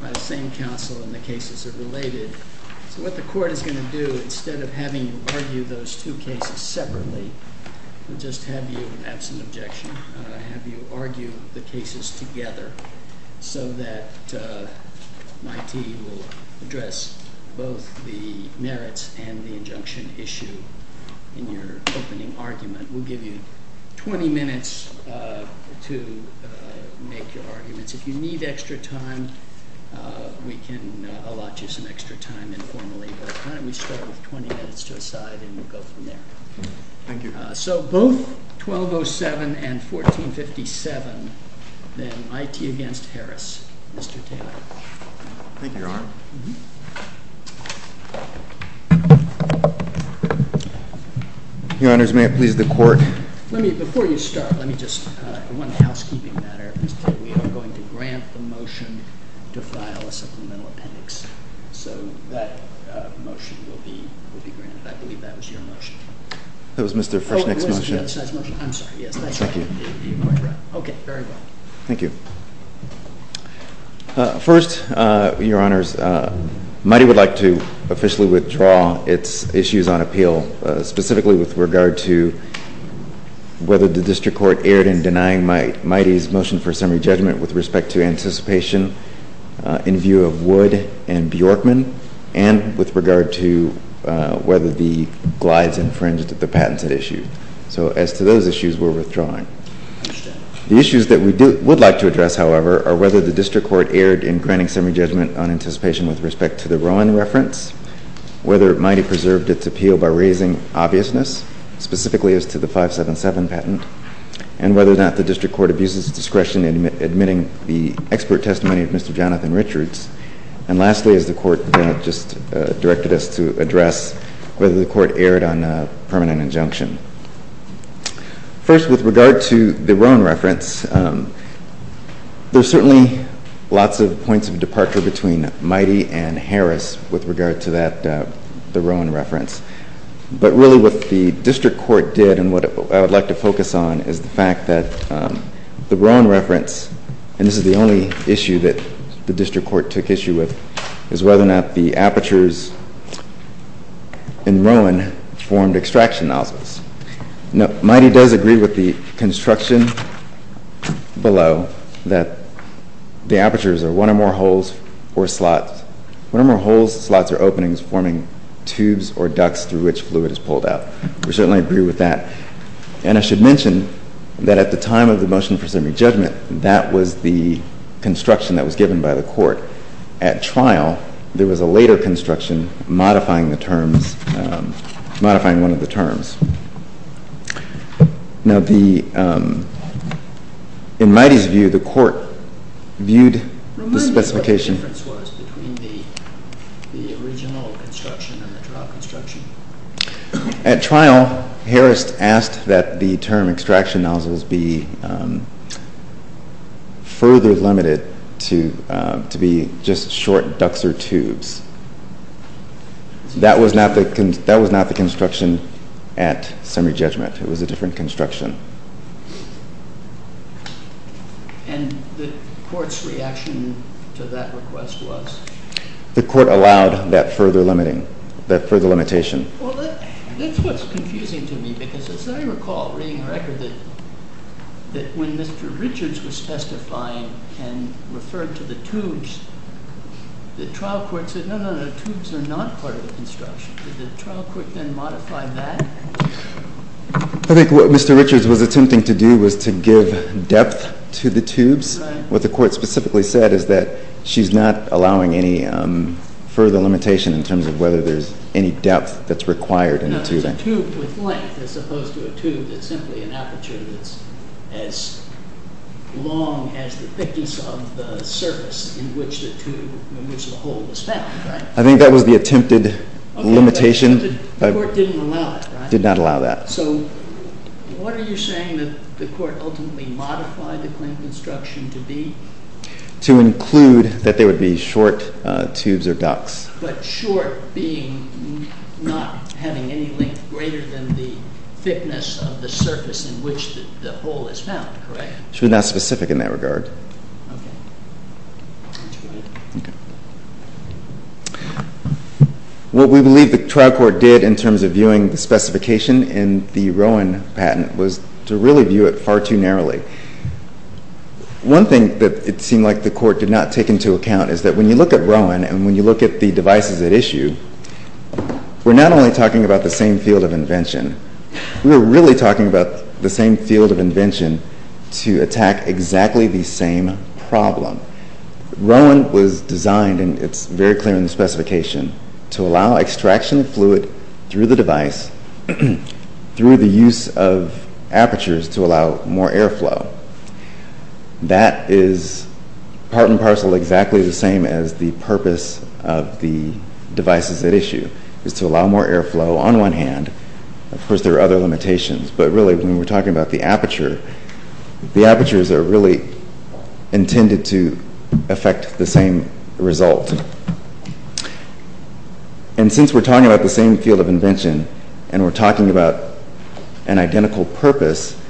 by the same counsel, and the cases are related. So what the court is going to do, instead of having you argue those two cases separately, we'll just have you, absent objection, have you argue the cases together so that MITEE will address both the merits and the injunction issue in your opening argument. We'll give you 20 minutes to make your arguments. If you need extra time, we can allot you some extra time informally. But why don't we start with 20 minutes to a side, and we'll go from there. Thank you. So both 1207 and 1457, then MITEE against Harris. Mr. Taylor. Thank you, Your Honor. Your Honors, may it please the court. Let me, before you start, let me just, one housekeeping matter. Mr. Taylor, we are going to grant the motion to file a supplemental appendix. So that motion will be granted. I believe that was your motion. That was Mr. Frischnick's motion. Oh, it was the other side's motion. I'm sorry. Yes, that's right. Thank you. You're quite right. OK, very well. Thank you. First, Your Honors, MITEE would like to officially withdraw its issues on appeal, specifically with regard to whether the district court erred in denying MITEE's motion for summary judgment with respect to anticipation in view of Wood and Bjorkman, and with regard to whether the Glides infringed the patented issue. So as to those issues, we're withdrawing. The issues that we would like to address, however, are whether the district court erred in granting summary judgment on anticipation with respect to the Rowan reference, whether MITEE preserved its appeal by raising obviousness, specifically as to the 577 patent, and whether or not the district court abuses discretion in admitting the expert testimony of Mr. Jonathan Richards. And lastly, as the court just directed us to address, whether the court erred on a permanent injunction. First, with regard to the Rowan reference, there's certainly lots of points of departure between MITEE and Harris with regard to the Rowan reference. But really what the district court did, and what I would like to focus on, is the fact that the Rowan reference, and this is the only issue that the district court took issue with, is whether or not the apertures in Rowan formed extraction nozzles. MITEE does agree with the construction below that the apertures are one or more holes or slots. One or more holes, slots, or openings forming tubes or ducts through which fluid is pulled out. We certainly agree with that. And I should mention that at the time of the motion presuming judgment, that was the construction that was given by the court. At trial, there was a later construction modifying one of the terms. Now in MITEE's view, the court viewed the specification. What the difference was between the original construction and the trial construction. At trial, Harris asked that the term extraction nozzles be further limited to be just short ducts or tubes. That was not the construction at summary judgment. It was a different construction. And the court's reaction to that request was? The court allowed that further limiting, that further limitation. Well, that's what's confusing to me, because as I recall reading the record, that when Mr. Richards was specifying and referred to the tubes, the trial court said, no, no, no. Tubes are not part of the construction. Did the trial court then modify that? I think what Mr. Richards was attempting to do was to give depth to the tubes. What the court specifically said is that she's not allowing any further limitation in terms of whether there's any depth that's required in the tubing. No, there's a tube with length as opposed to a tube that's simply an aperture that's as long as the thickness of the surface in which the hole was found, right? I think that was the attempted limitation. But the court didn't allow it, right? Did not allow that. So what are you saying that the court ultimately modified the claim construction to be? To include that there would be short tubes or ducts. But short being not having any length greater than the thickness of the surface in which the hole is found, correct? She was not specific in that regard. OK. What we believe the trial court did in terms of viewing the specification in the Rowan patent was to really view it far too narrowly. One thing that it seemed like the court did not take into account is that when you look at Rowan and when you look at the devices at issue, we're not only talking about the same field of invention. We were really talking about the same field of invention to attack exactly the same problem. Rowan was designed, and it's very clear in the specification, to allow extraction of fluid through the device through the use of apertures to allow more airflow. That is part and parcel exactly the same as the purpose of the devices at issue is to allow more airflow on one hand. Of course, there are other limitations. But really, when we're talking about the aperture, the apertures are really intended to affect the same result. And since we're talking about the same field of invention and we're talking about an identical purpose,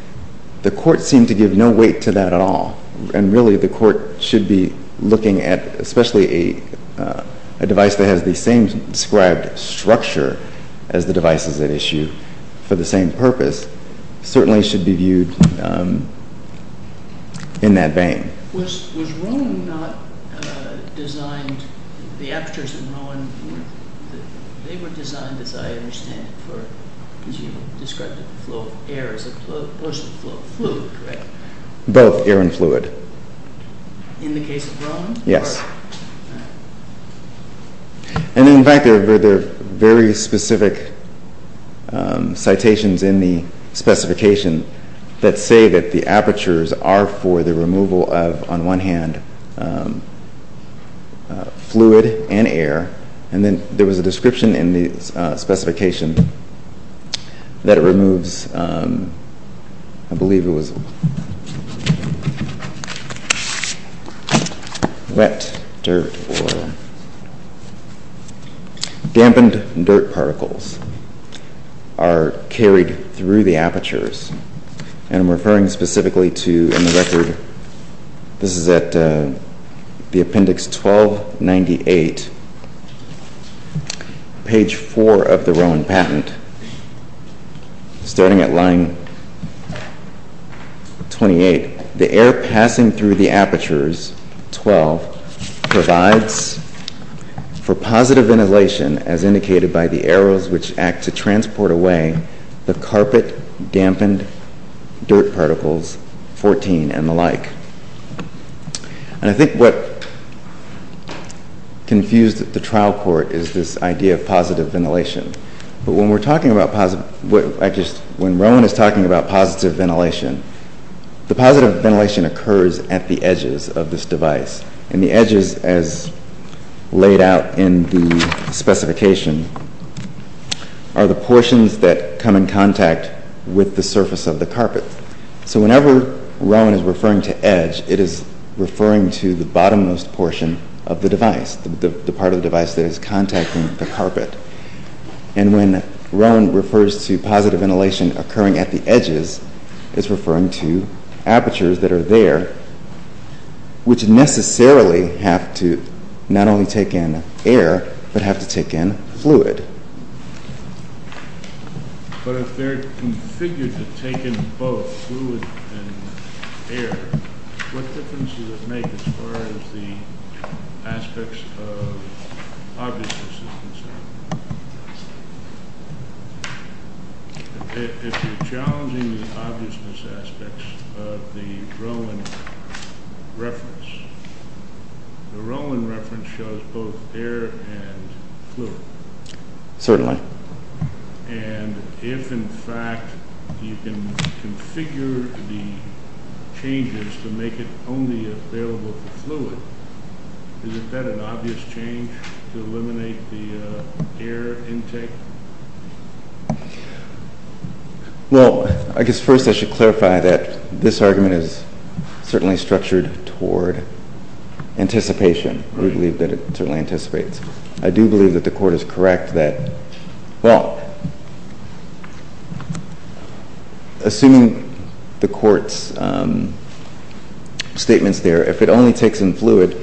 the court seemed to give no weight to that at all. And really, the court should be looking at especially a device that has the same described structure as the devices at issue for the same purpose certainly should be viewed in that vein. Was Rowan not designed, the apertures in Rowan, they were designed, as I understand it, for, as you described it, the flow of air as opposed to fluid, correct? Both air and fluid. In the case of Rowan? Yes. And in fact, there are very specific citations in the specification that say that the apertures are for the removal of, on one hand, fluid and air. And then there was a description in the specification that it removes, I believe it was wet dirt or dampened dirt particles, are carried through the apertures. And I'm referring specifically to, in the record, this is at the appendix 1298, page 4 of the Rowan patent. Starting at line 28, the air passing through the apertures, 12, provides for positive ventilation as indicated by the arrows, which act to transport away the carpet dampened dirt particles, 14 and the like. And I think what confused the trial court is this idea of positive ventilation. But when we're talking about positive, when Rowan is talking about positive ventilation, the positive ventilation occurs at the edges of this device. And the edges, as laid out in the specification, are the portions that come in contact with the surface of the carpet. So whenever Rowan is referring to edge, it is referring to the bottom-most portion of the device, the part of the device that is contacting the carpet. And when Rowan refers to positive ventilation occurring at the edges, it's referring to apertures that are there, which necessarily have to not only take in air, but have to take in fluid. But if they're configured to take in both fluid and air, what difference does it make as far as the aspects of obviousness is concerned? Yes. If you're challenging the obviousness aspects of the Rowan reference, the Rowan reference shows both air and fluid. Certainly. And if, in fact, you can configure the changes to make it only available for fluid, is it then an obvious change to eliminate the air intake? Well, I guess first I should clarify that this argument is certainly structured toward anticipation. We believe that it certainly anticipates. I do believe that the court is correct that, well, assuming the court's statements there, if it only takes in fluid,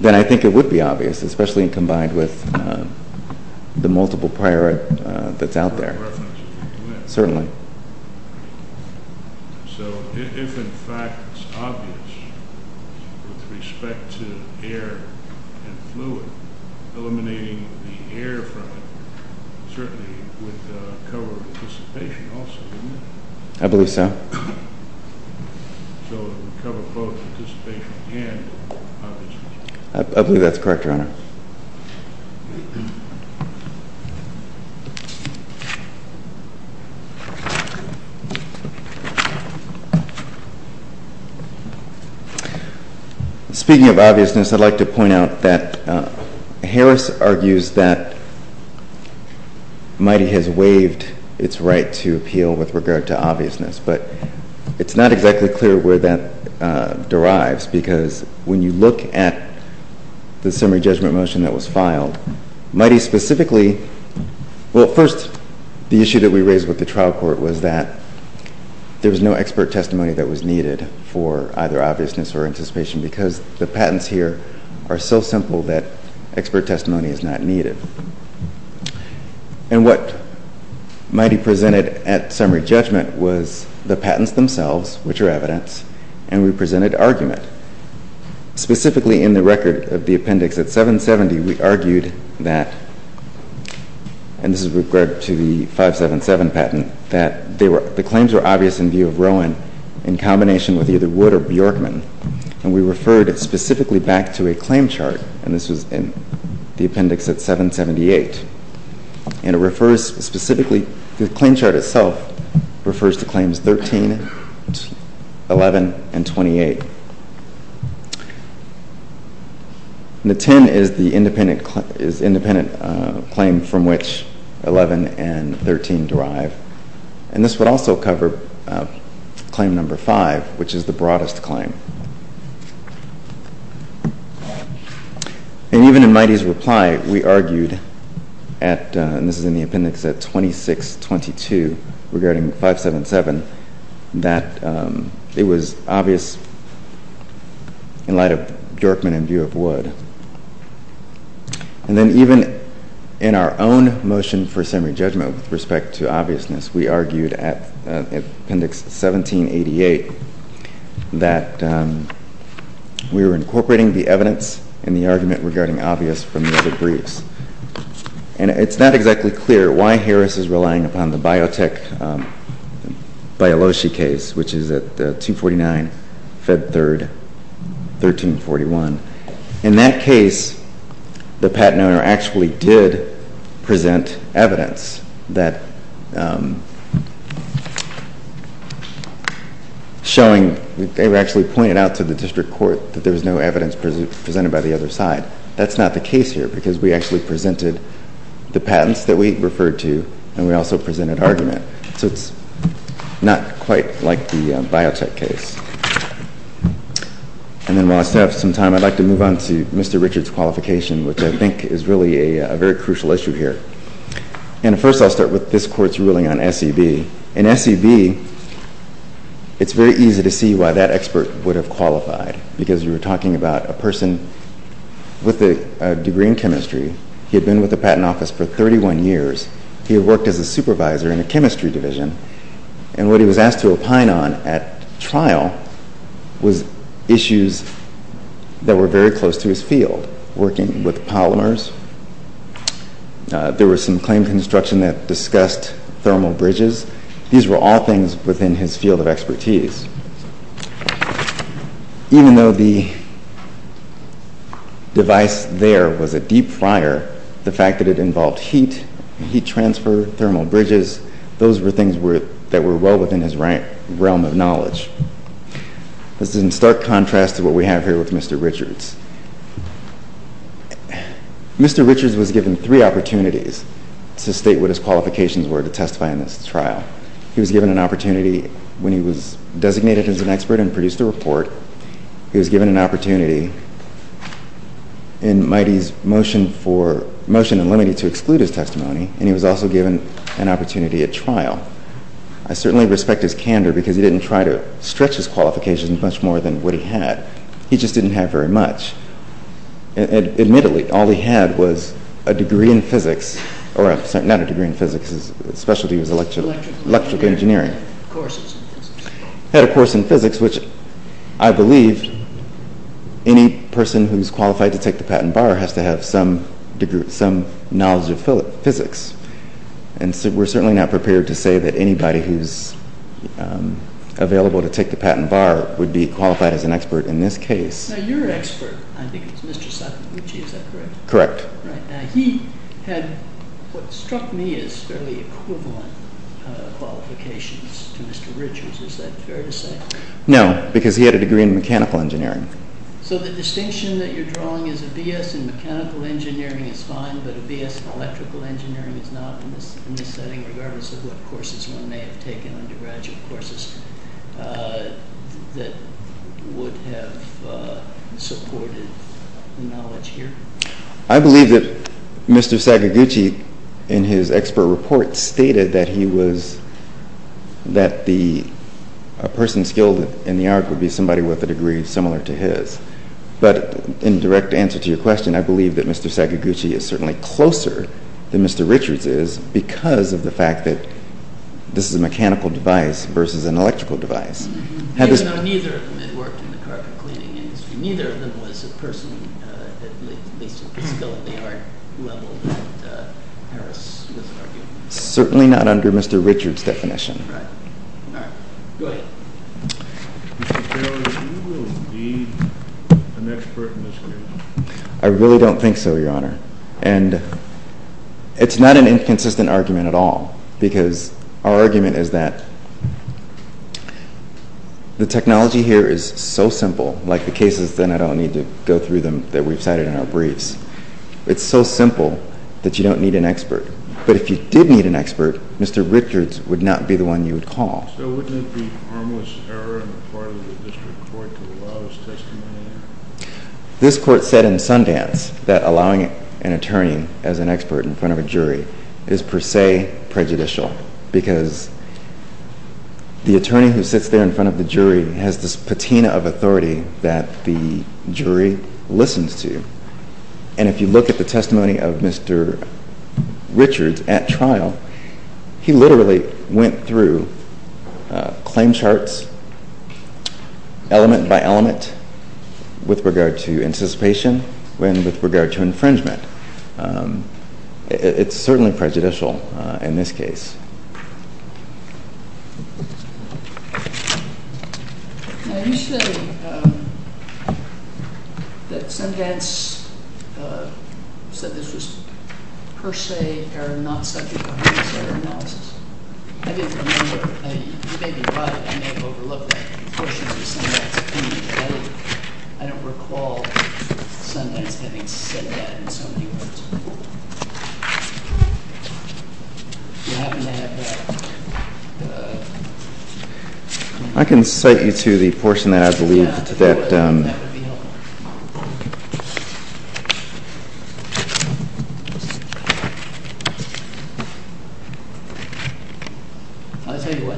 then I think it would be obvious, especially combined with the multiple prior that's out there. Certainly. So if, in fact, it's obvious with respect to air and fluid, eliminating the air from it certainly would cover anticipation also, wouldn't it? I believe so. So it would cover both anticipation and obviousness. I believe that's correct, Your Honor. Speaking of obviousness, I'd like to point out that Harris argues that MITEI has waived its right to appeal with regard to obviousness. It's not exactly clear where that derives, because when you look at the summary judgment motion that was filed, MITEI specifically, well, first, the issue that we raised with the trial court was that there was no expert testimony that was needed for either obviousness or anticipation, because the patents here are so simple that expert testimony is not needed. And what MITEI presented at summary judgment was the patents themselves, which are evidence, and we presented argument. Specifically in the record of the appendix at 770, we argued that, and this is with regard to the 577 patent, that the claims were obvious in view of Rowan in combination with either Wood or Bjorkman. And we referred specifically back to a claim chart. And this was in the appendix at 778. And it refers specifically, the claim chart itself refers to claims 13, 11, and 28. And the 10 is the independent claim from which 11 and 13 derive. And this would also cover claim number five, which is the broadest claim. And even in MITEI's reply, we argued at, and this is in the appendix at 2622 regarding 577, that it was obvious in light of Bjorkman in view of Wood. And then even in our own motion for summary judgment with respect to obviousness, we argued at appendix 1788 that we were incorporating the evidence in the argument regarding obvious from the other briefs. And it's not exactly clear why Harris is relying upon the Biotech-Bioloshi case, which is at 249, Feb 3, 1341. In that case, the patent owner actually did present evidence showing, they actually pointed out to the district court that there was no evidence presented by the other side. That's not the case here, because we actually presented the patents that we referred to, and we also presented argument. So it's not quite like the biotech case. And then while I still have some time, I'd like to move on to Mr. Richard's qualification, which I think is really a very crucial issue here. And first, I'll start with this court's ruling on SEB. In SEB, it's very easy to see why that expert would have qualified, because you were talking about a person with a degree in chemistry. He had been with the patent office for 31 years. He had worked as a supervisor in the chemistry division. And what he was asked to opine on at trial was issues that were very close to his field, working with polymers. There were some claim construction that discussed thermal bridges. These were all things within his field of expertise. Even though the device there was a deep fryer, the fact that it involved heat, heat transfer, thermal bridges, those were things that were well within his realm of knowledge. This is in stark contrast to what we have here with Mr. Richards. Mr. Richards was given three opportunities to state what his qualifications were to testify in this trial. He was given an opportunity when he was designated as an expert and produced a report. He was given an opportunity in MITEI's motion and limited to exclude his testimony. And he was also given an opportunity at trial. I certainly respect his candor, because he didn't try to stretch his qualifications much more than what he had. He just didn't have very much. And admittedly, all he had was a degree in physics, or not a degree in physics, his specialty was electrical engineering. He had a course in physics, which I believe any person who's qualified to take the patent bar has to have some degree, some knowledge of physics. And we're certainly not prepared to say that anybody who's available to take the patent bar would be qualified as an expert in this case. Now, your expert, I think it's Mr. Sakaguchi, is that correct? Correct. Right. Now, he had what struck me as fairly equivalent qualifications to Mr. Richards. Is that fair to say? No, because he had a degree in mechanical engineering. So the distinction that you're drawing is a BS in mechanical engineering is fine, but a BS in electrical engineering is not in this setting, regardless of what courses one may have taken, undergraduate courses, that would have supported the knowledge here? I believe that Mr. Sakaguchi, in his expert report, stated that a person skilled in the art would be somebody with a degree similar to his. But in direct answer to your question, I believe that Mr. Sakaguchi is certainly closer than Mr. Richards is because of the fact that this is a mechanical device versus an electrical device. Even though neither of them had worked in the carpet cleaning industry. Neither of them was a person at least at the skill of the art level that Harris was arguing. Certainly not under Mr. Richards' definition. Right. All right. Go ahead. Mr. Carroll, do you believe you will be an expert in this case? I really don't think so, Your Honor. And it's not an inconsistent argument at all because our argument is that the technology here is so simple, like the cases, then I don't need to go through them that we've cited in our briefs. It's so simple that you don't need an expert. But if you did need an expert, Mr. Richards would not be the one you would call. So wouldn't it be harmless error on the part of the district court to allow his testimony? This court said in Sundance that allowing an attorney as an expert in front of a jury is per se prejudicial because the attorney who sits there in front of the jury has this patina of authority that the jury listens to. And if you look at the testimony of Mr. Richards at trial, he literally went through claim charts, element by element, with regard to anticipation and with regard to infringement. It's certainly prejudicial in this case. Yes. Now, you said that Sundance said this was per se or not subject to harmless error analysis. I didn't remember. You may be right. I may have overlooked that. The question is with Sundance. I don't recall Sundance having said that in so many words. I can cite you to the portion that I believe that. That would be helpful. I'll tell you what,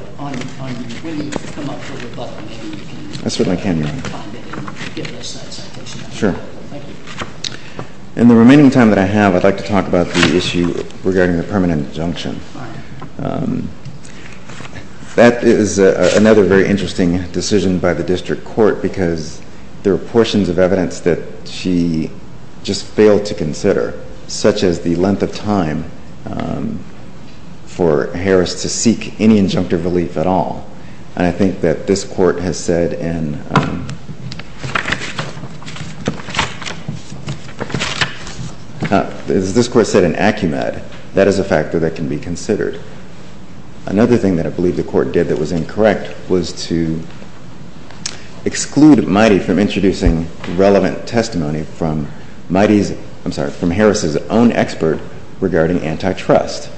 when you come up for rebuttal, maybe you can find it and give us that citation. Sure. I'm going to ask you to come up for rebuttal. Now, I'd like to talk about the issue regarding the permanent injunction. That is another very interesting decision by the district court, because there are portions of evidence that she just failed to consider, such as the length of time for Harris to seek any injunctive relief at all. And I think that this court has said in Acumad, that is a factor that can be considered. Another thing that I believe the court did that was incorrect was to exclude Mighty from introducing relevant testimony from Harris's own expert regarding antitrust.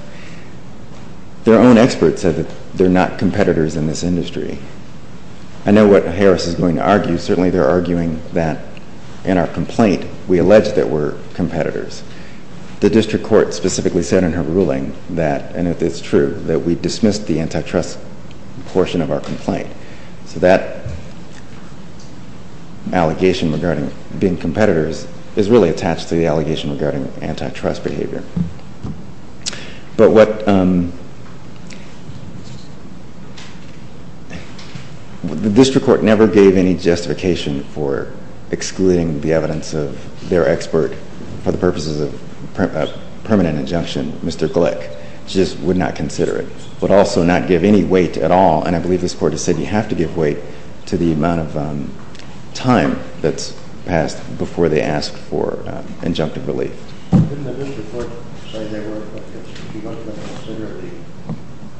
Their own expert said that they're not competitors in this industry. I know what Harris is going to argue. Certainly, they're arguing that in our complaint, we allege that we're competitors. The district court specifically said in her ruling that, and if it's true, that we dismissed the antitrust portion of our complaint. So that allegation regarding being competitors is really attached to the allegation regarding antitrust behavior. But what the district court never gave any justification for excluding the evidence of their expert for the purposes of permanent injunction. Mr. Glick just would not consider it, would also not give any weight at all. And I believe this court has said you have to give weight to the amount of time that's passed before they ask for injunctive relief. Didn't the district court say they weren't going to consider the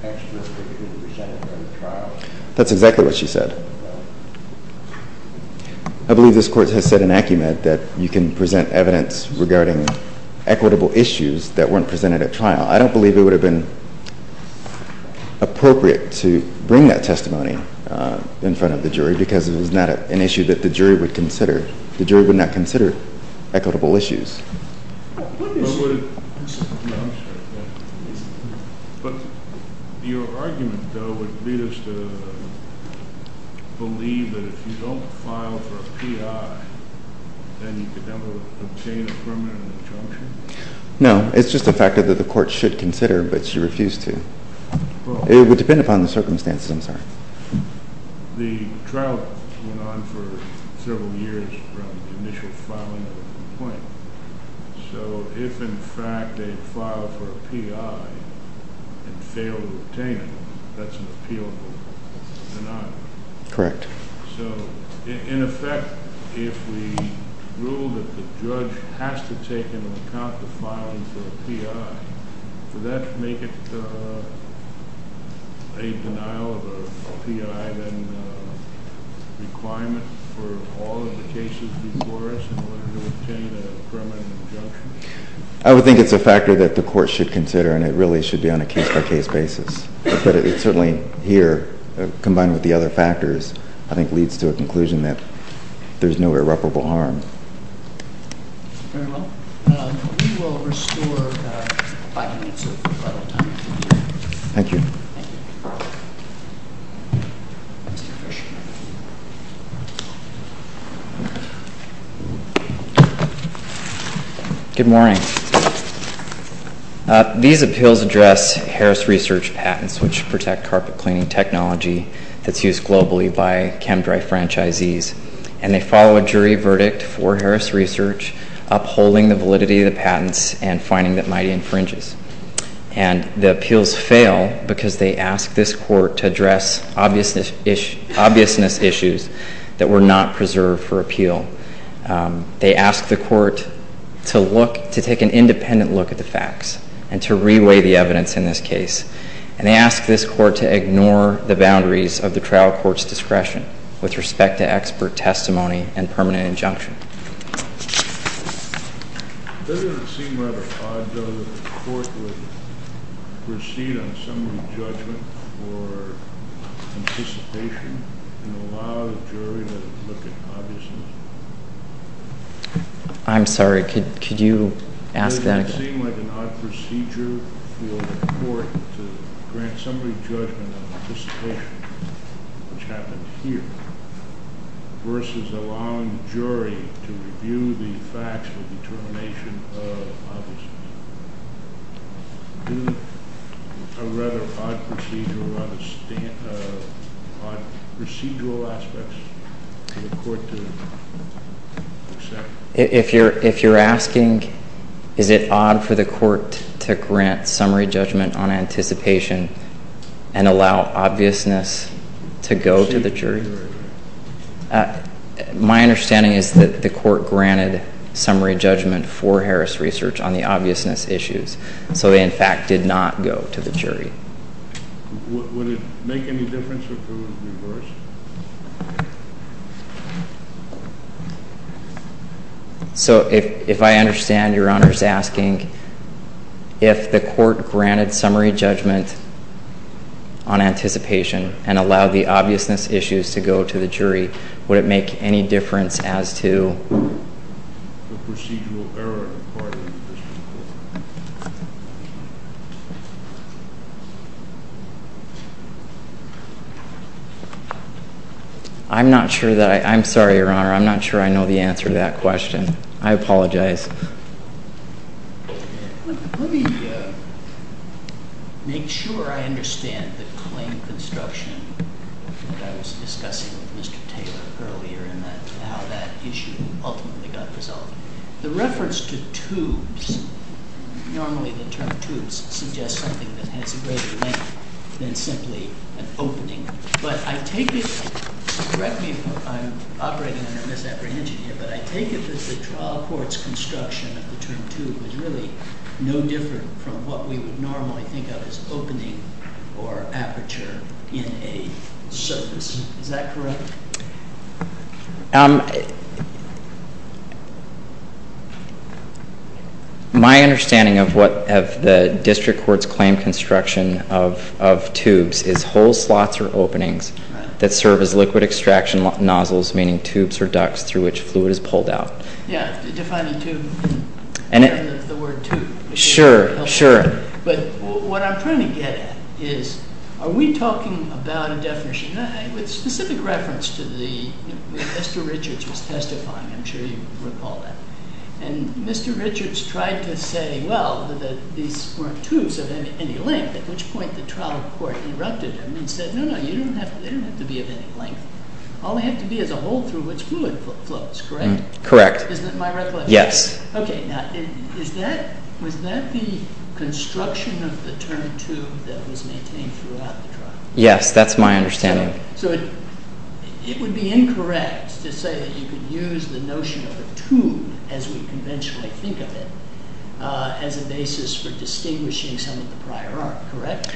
experts that could be presented at trial? That's exactly what she said. I believe this court has said in acumen that you can present evidence regarding equitable issues that weren't presented at trial. I don't believe it would have been appropriate to bring that testimony in front of the jury because it was not an issue that the jury would consider. Equitable issues. But your argument, though, would lead us to believe that if you don't file for a PI, then you could never obtain a permanent injunction? No, it's just a factor that the court should consider, but she refused to. It would depend upon the circumstances. I'm sorry. The trial went on for several years from the initial filing of the complaint. So if, in fact, they file for a PI and fail to obtain it, that's an appealable denial. Correct. So in effect, if we rule that the judge has to take into account the filing for a PI, would that make it a denial of a PI, then a requirement for all of the cases before us in order to obtain a permanent injunction? I would think it's a factor that the court should consider, and it really should be on a case-by-case basis. But it certainly here, combined with the other factors, I think leads to a conclusion that there's no irreparable harm. Very well. We will restore five minutes of rebuttal time. Thank you. Good morning. These appeals address Harris Research patents, which protect carpet cleaning technology that's used globally by ChemDry franchisees. And they follow a jury verdict for Harris Research, upholding the validity of the patents and finding that mighty infringes. And the appeals fail because they ask this court to address obviousness issues that were not preserved for appeal. They ask the court to take an independent look at the facts and to reweigh the evidence in this case. And they ask this court to ignore the boundaries of the trial court's discretion with respect to expert testimony and permanent injunction. I'm sorry, could you ask that again? Versus allowing the jury to review the facts with determination of obviousness. Do a rather odd procedural aspect for the court to accept? If you're asking, is it odd for the court to grant summary judgment on anticipation and allow obviousness to go to the jury? My understanding is that the court granted summary judgment for Harris Research on the obviousness issues. So they, in fact, did not go to the jury. Would it make any difference if it was reversed? So if I understand, Your Honor is asking if the court granted summary judgment on anticipation and allowed the obviousness issues to go to the jury, would it make any difference as to the procedural error required in this case? I'm not sure that I'm sorry, Your Honor. I'm not sure I know the answer to that question. I apologize. Let me make sure I understand the claim construction that I was discussing with Mr. Taylor earlier and how that issue ultimately got resolved. The reference to tubes, normally the term tubes suggests something that has a greater length than simply an opening. But I take it, correct me if I'm operating under a misapprehension here, but I take it that the trial court's construction of the term tube is really no different from what we would normally think of as opening or aperture in a surface. Is that correct? My understanding of what the district court's claim construction of tubes is whole slots or openings that serve as liquid extraction nozzles, meaning tubes or ducts through which fluid is pulled out. Yeah, defining tube, the word tube. Sure, sure. But what I'm trying to get at is, are we talking about a definition, with specific reference to the, Mr. Richards was testifying, I'm sure you recall that. And Mr. Richards tried to say, well, that these weren't tubes of any length, at which point the trial court interrupted him and said, no, no, they don't have to be of any length. All they have to be is a hole through which fluid flows, correct? Correct. Is that my recollection? Yes. OK, now, was that the construction of the term tube that was maintained throughout the trial? Yes, that's my understanding. So it would be incorrect to say that you could use the notion of a tube, as we conventionally think of it, as a basis for distinguishing some of the prior art, correct?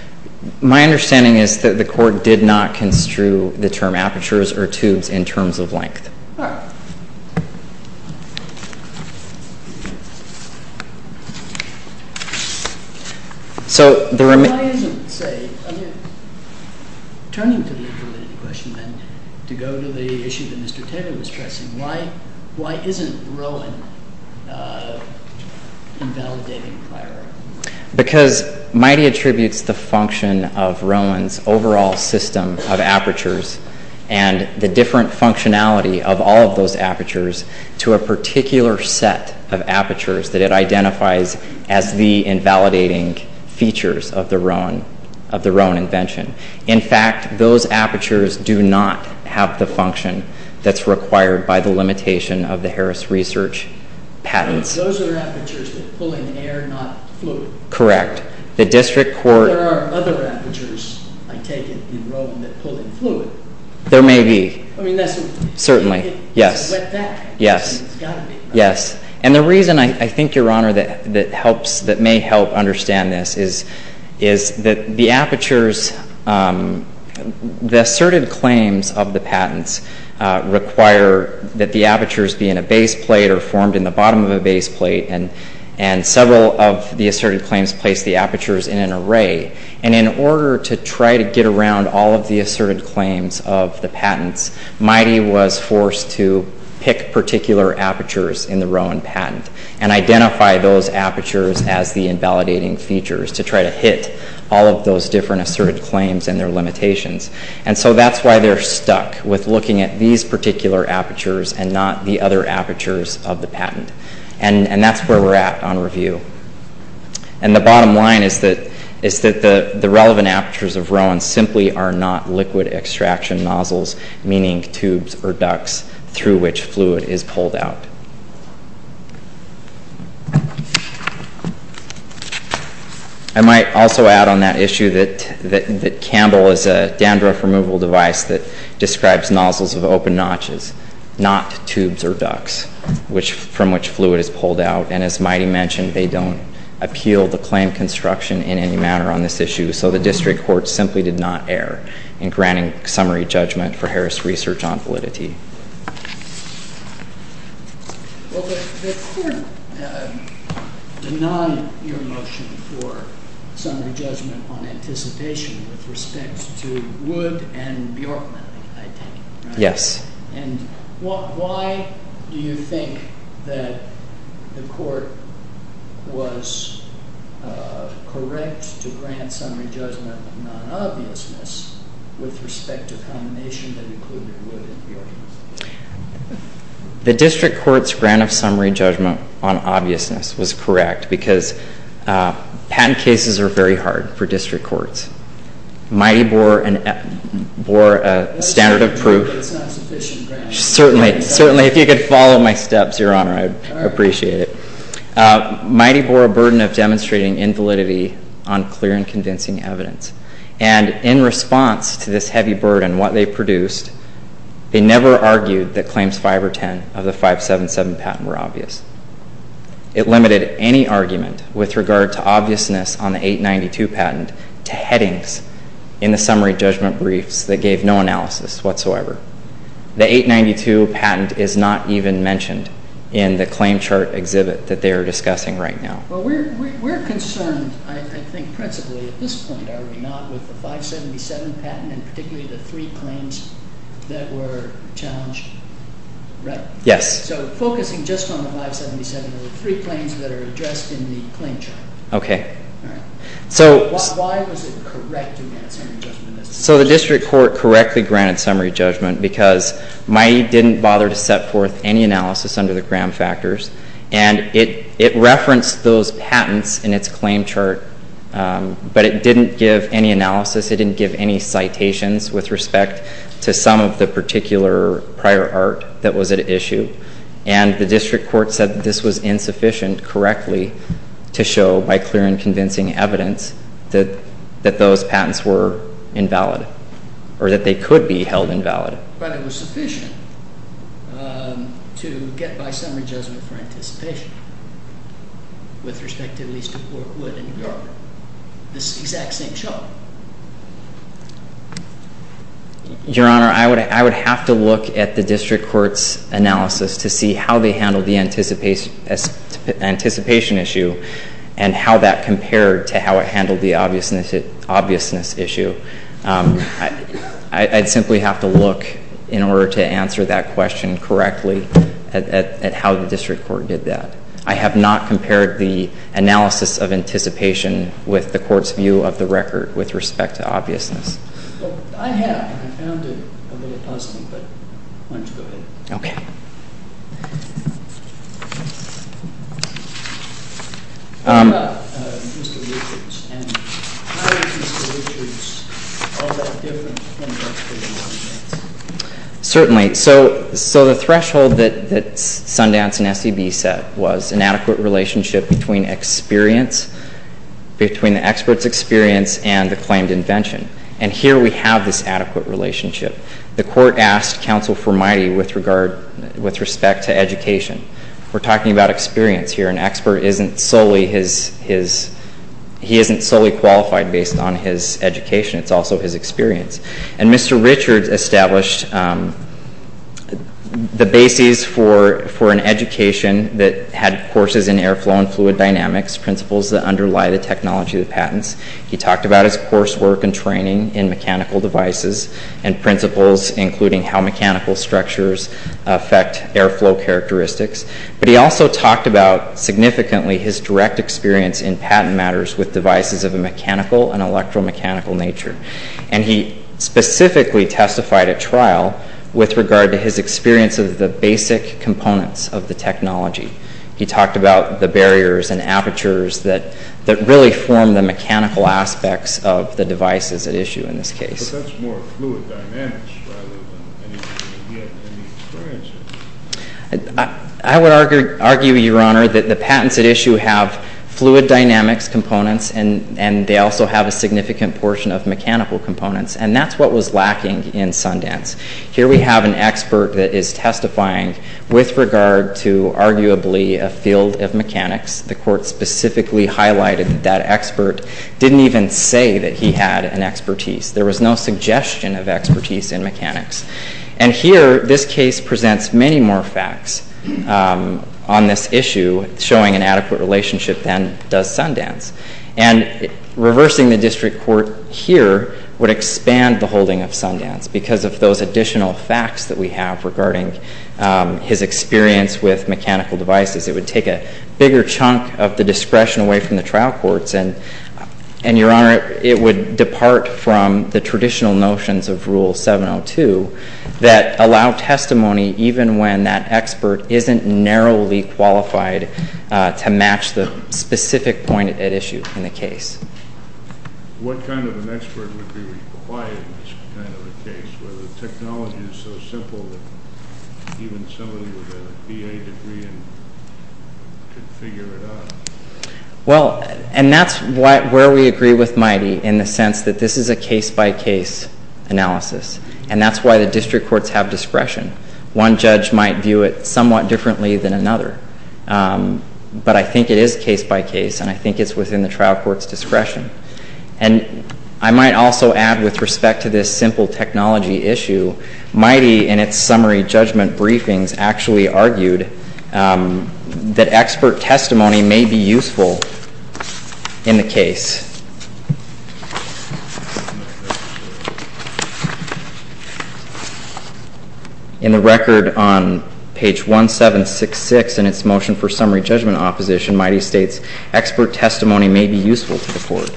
My understanding is that the court did not construe the term apertures or tubes in terms of length. All right. So the remaining. Why isn't, say, I mean, turning to the intermediate question, then, to go to the issue that Mr. Taylor was stressing, why isn't Rowan invalidating prior art? Because MITEI attributes the function of Rowan's overall system of apertures and the different functionality of all of those apertures to a particular set of apertures that it identifies as the invalidating features of the Rowan invention. In fact, those apertures do not have the function that's required by the limitation of the Harris Research patents. Those are apertures that pull in air, not fluid. Correct. The district court. There are other apertures, I take it, There may be. Certainly. Yes. Yes. Yes. And the reason, I think, Your Honor, that may help understand this is that the apertures, the asserted claims of the patents require that the apertures be in a base plate or formed in the bottom of a base plate. And several of the asserted claims place the apertures in an array. And in order to try to get around all of the asserted claims of the patents, MITEI was forced to pick particular apertures in the Rowan patent and identify those apertures as the invalidating features to try to hit all of those different asserted claims and their limitations. And so that's why they're stuck with looking at these particular apertures and not the other apertures of the patent. And that's where we're at on review. And the bottom line is that the relevant apertures of Rowan simply are not liquid extraction nozzles, meaning tubes or ducts, through which fluid is pulled out. I might also add on that issue that Campbell is a dandruff removal device that describes nozzles of open notches, not tubes or ducts, from which fluid is pulled out. And as MITEI mentioned, they don't appeal the claim construction in any manner on this issue. So the district court simply did not err in granting summary judgment for Harris' research on validity. Well, the court did not hear a motion for summary judgment on anticipation with respect to Wood and Bjorkman, I think. Yes. And why do you think that the court was correct to grant summary judgment on obviousness with respect to combination that included Wood and Bjorkman? The district court's grant of summary judgment on obviousness was correct because patent cases are very hard for district courts. MITEI bore a standard of proof... But it's not sufficient, Grant. Certainly. Certainly, if you could follow my steps, Your Honor, I would appreciate it. MITEI bore a burden of demonstrating invalidity on clear and convincing evidence. And in response to this heavy burden, what they produced, they never argued that claims 5 or 10 of the 577 patent were obvious. It limited any argument with regard to obviousness on the 892 patent to headings in the summary judgment briefs that gave no analysis whatsoever. The 892 patent is not even mentioned in the claim chart exhibit that they are discussing right now. Well, we're concerned, I think, principally, at this point, are we not, with the 577 patent and particularly the three claims that were challenged, right? Yes. So focusing just on the 577, there were three claims that are addressed in the claim chart. Okay. Why was it correct to grant summary judgment? So the district court correctly granted summary judgment because MITEI didn't bother to set forth any analysis under the Graham factors and it referenced those patents in its claim chart, but it didn't give any analysis, it didn't give any citations with respect to some of the particular prior art that was at issue. And the district court said that this was insufficient, correctly, to show by clear and convincing evidence that those patents were invalid or that they could be held invalid. But it was sufficient to get by summary judgment for anticipation with respect to at least a court would regard this exact same chart. Your Honor, I would have to look at the district court's analysis to see how they handled the anticipation issue and how that compared to how it handled the obviousness issue I'd simply have to look in order to answer that question correctly at how the district court did that. I have not compared the analysis of anticipation with the court's view of the record with respect to obviousness. I have. I found it a little puzzling, but why don't you go ahead. Okay. How about Mr. Richards and how is Mr. Richards all that different from the experts in Sundance? Certainly. So the threshold that Sundance and SEB set was an adequate relationship between experience, between the expert's experience and the claimed invention. And here we have this adequate relationship. The court asked counsel for mighty with respect to education. We're talking about experience here. An expert isn't solely his... He isn't solely qualified based on his education. It's also his experience. And Mr. Richards established the basis for an education that had courses in air flow and fluid dynamics, principles that underlie the technology of the patents. He talked about his coursework and training in mechanical devices and principles, including how mechanical structures affect air flow characteristics. But he also talked about significantly his direct experience in patent matters with devices of a mechanical and electromechanical nature. And he specifically testified at trial with regard to his experience of the basic components of the technology. He talked about the barriers and apertures that really form the mechanical aspects of the devices at issue in this case. But that's more fluid dynamics rather than anything that he had any experience in. I would argue, Your Honor, that the patents at issue have fluid dynamics components and they also have a significant portion of mechanical components. And that's what was lacking in Sundance. Here we have an expert that is testifying with regard to, arguably, a field of mechanics. The court specifically highlighted that that expert didn't even say that he had an expertise. There was no suggestion of expertise in mechanics. And here, this case presents many more facts on this issue showing an adequate relationship than does Sundance. And reversing the district court here would expand the holding of Sundance because of those additional facts that we have regarding his experience with mechanical devices. It would take a bigger chunk of the discretion away from the trial courts and, Your Honor, it would depart from the traditional notions of Rule 702 that allow testimony even when that expert isn't narrowly qualified to match the specific point at issue in the case. What kind of an expert would be required in this kind of a case where the technology is so simple that even somebody with a BA degree could figure it out? Well, and that's where we agree with Mighty in the sense that this is a case-by-case analysis. And that's why the district courts have discretion. One judge might view it somewhat differently than another. But I think it is case-by-case and I think it's within the trial court's discretion. And I might also add with respect to this simple technology issue, Mighty in its summary judgment briefings actually argued that expert testimony may be useful in the case. In the record on page 1766 in its motion for summary judgment opposition, Mighty states, expert testimony may be useful to the court.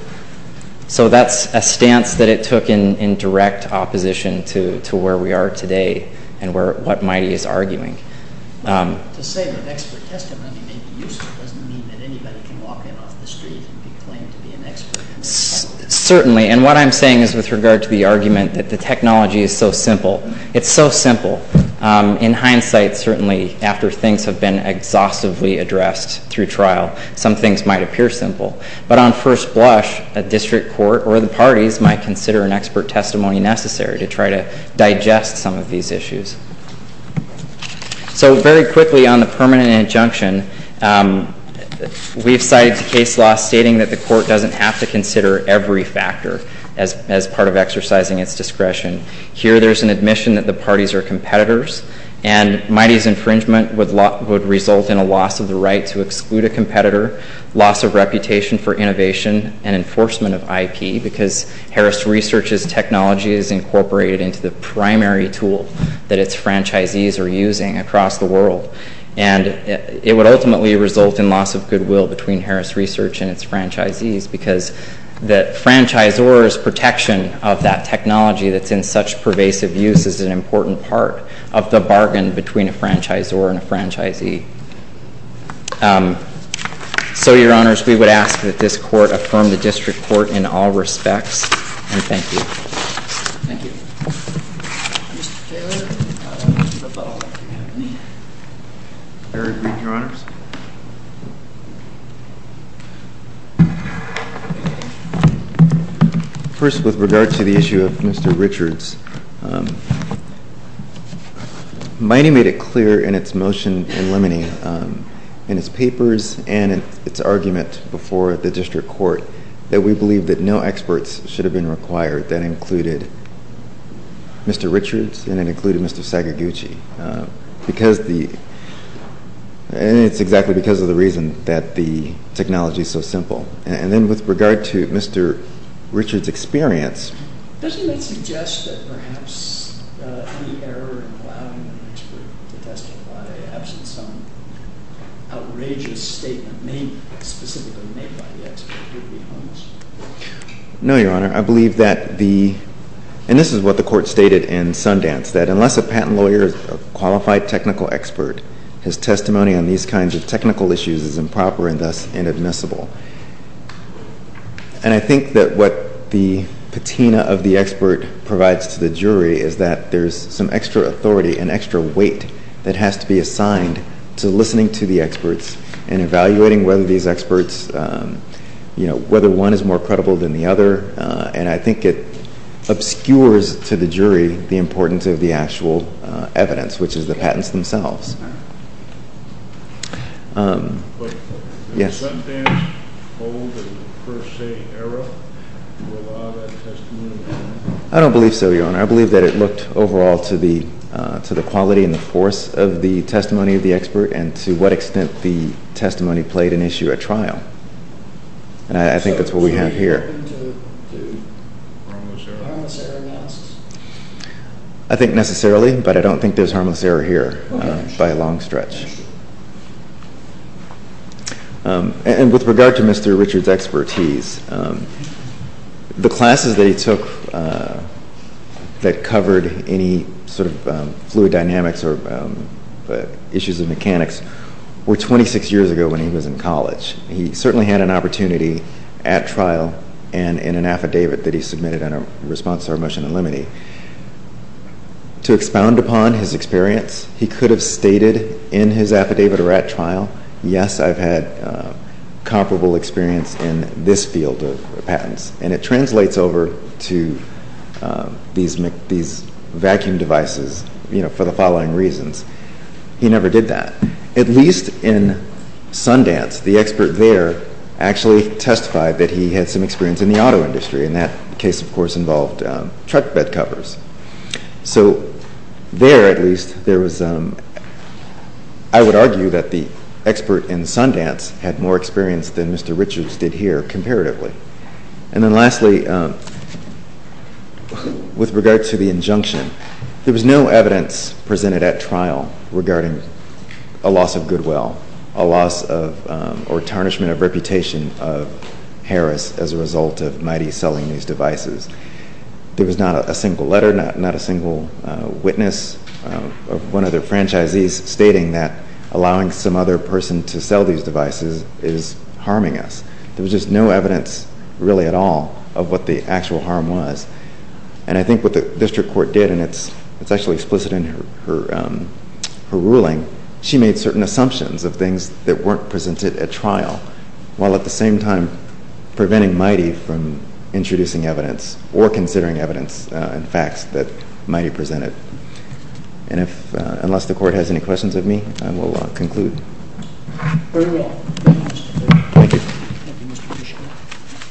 So that's a stance that it took in direct opposition to where we are today and what Mighty is arguing. To say that expert testimony may be useful doesn't mean that anybody can walk in off the street and be claimed to be an expert. Certainly, and what I'm saying is with regard to the argument that the technology is so simple. It's so simple. In hindsight, certainly, after things have been exhaustively addressed through trial, some things might appear simple. But on first blush, a district court or the parties might consider an expert testimony necessary to try to digest some of these issues. So very quickly on the permanent injunction, we've cited the case law stating that the court doesn't have to consider every factor as part of exercising its discretion. Here, there's an admission that the parties are competitors and Mighty's infringement would result in a loss of the right to exclude a competitor, loss of reputation for innovation, and enforcement of IP because Harris Research's technology is incorporated into the primary tool that its franchisees are using across the world. And it would ultimately result in loss of goodwill between Harris Research and its franchisees because the franchisor's protection of that technology that's in such pervasive use is an important part of the bargain between a franchisor and a franchisee. So, Your Honors, we would ask that this court affirm the district court in all respects. And thank you. Thank you. Mr. Taylor, I don't know if you have any. I read, Your Honors. First, with regard to the issue of Mr. Richards, Mighty made it clear in its motion in limine in its papers and its argument before the district court that we believe that no experts should have been required that included Mr. Richards and it included Mr. Sagaguchi because the, and it's exactly because of the reason that the technology is so simple. And then with regard to Mr. Richards' experience. Doesn't it suggest that perhaps the error in allowing an expert to testify absent some outrageous statement made specifically made by the expert would be harmless? No, Your Honor. I believe that the, and this is what the court stated in Sundance, that unless a patent lawyer is a qualified technical expert, his testimony on these kinds of technical issues is improper and thus inadmissible. And I think that what the patina of the expert provides to the jury is that there's some extra authority and extra weight that has to be assigned to listening to the experts and evaluating whether these experts, you know, whether one is more credible than the other. And I think it obscures to the jury the importance of the actual evidence, which is the patents themselves. Yes. Is the Sundance hold a per se error to allow that testimony? I don't believe so, Your Honor. I believe that it looked overall to the, to the quality and the force of the testimony of the expert and to what extent the testimony played an issue at trial. And I think that's what we have here. So the jury is open to harmless error? Harmless error masks? I think necessarily, but I don't think there's harmless error here. Okay. By a long stretch. And with regard to Mr. Richard's expertise, the classes that he took that covered any sort of fluid dynamics or issues of mechanics were 26 years ago when he was in college. He certainly had an opportunity at trial and in an affidavit that he submitted in response to our motion in limine. To expound upon his experience, he could have stated in his affidavit or at trial, yes, I've had comparable experience in this field of patents. And it translates over to these, these vacuum devices, you know, for the following reasons. He never did that. At least in Sundance, the expert there actually testified that he had some experience in the auto industry. And that case, of course, involved truck bed covers. So there, at least, there was, I would argue that the expert in Sundance had more experience than Mr. Richards did here, comparatively. And then lastly, with regard to the injunction, there was no evidence presented at trial regarding a loss of goodwill, a loss of, or tarnishment of reputation of Harris as a result of Mighty selling these devices. There was not a single letter, not a single witness of one of the franchisees stating that allowing some other person to sell these devices is harming us. There was just no evidence, really, at all, of what the actual harm was. And I think what the district court did, and it's, it's actually explicit in her, her, her ruling, she made certain assumptions of things that weren't presented at trial, while at the same time preventing Mighty from introducing evidence or considering evidence and facts that Mighty presented. And if, unless the court has any questions of me, I will conclude. Thank you.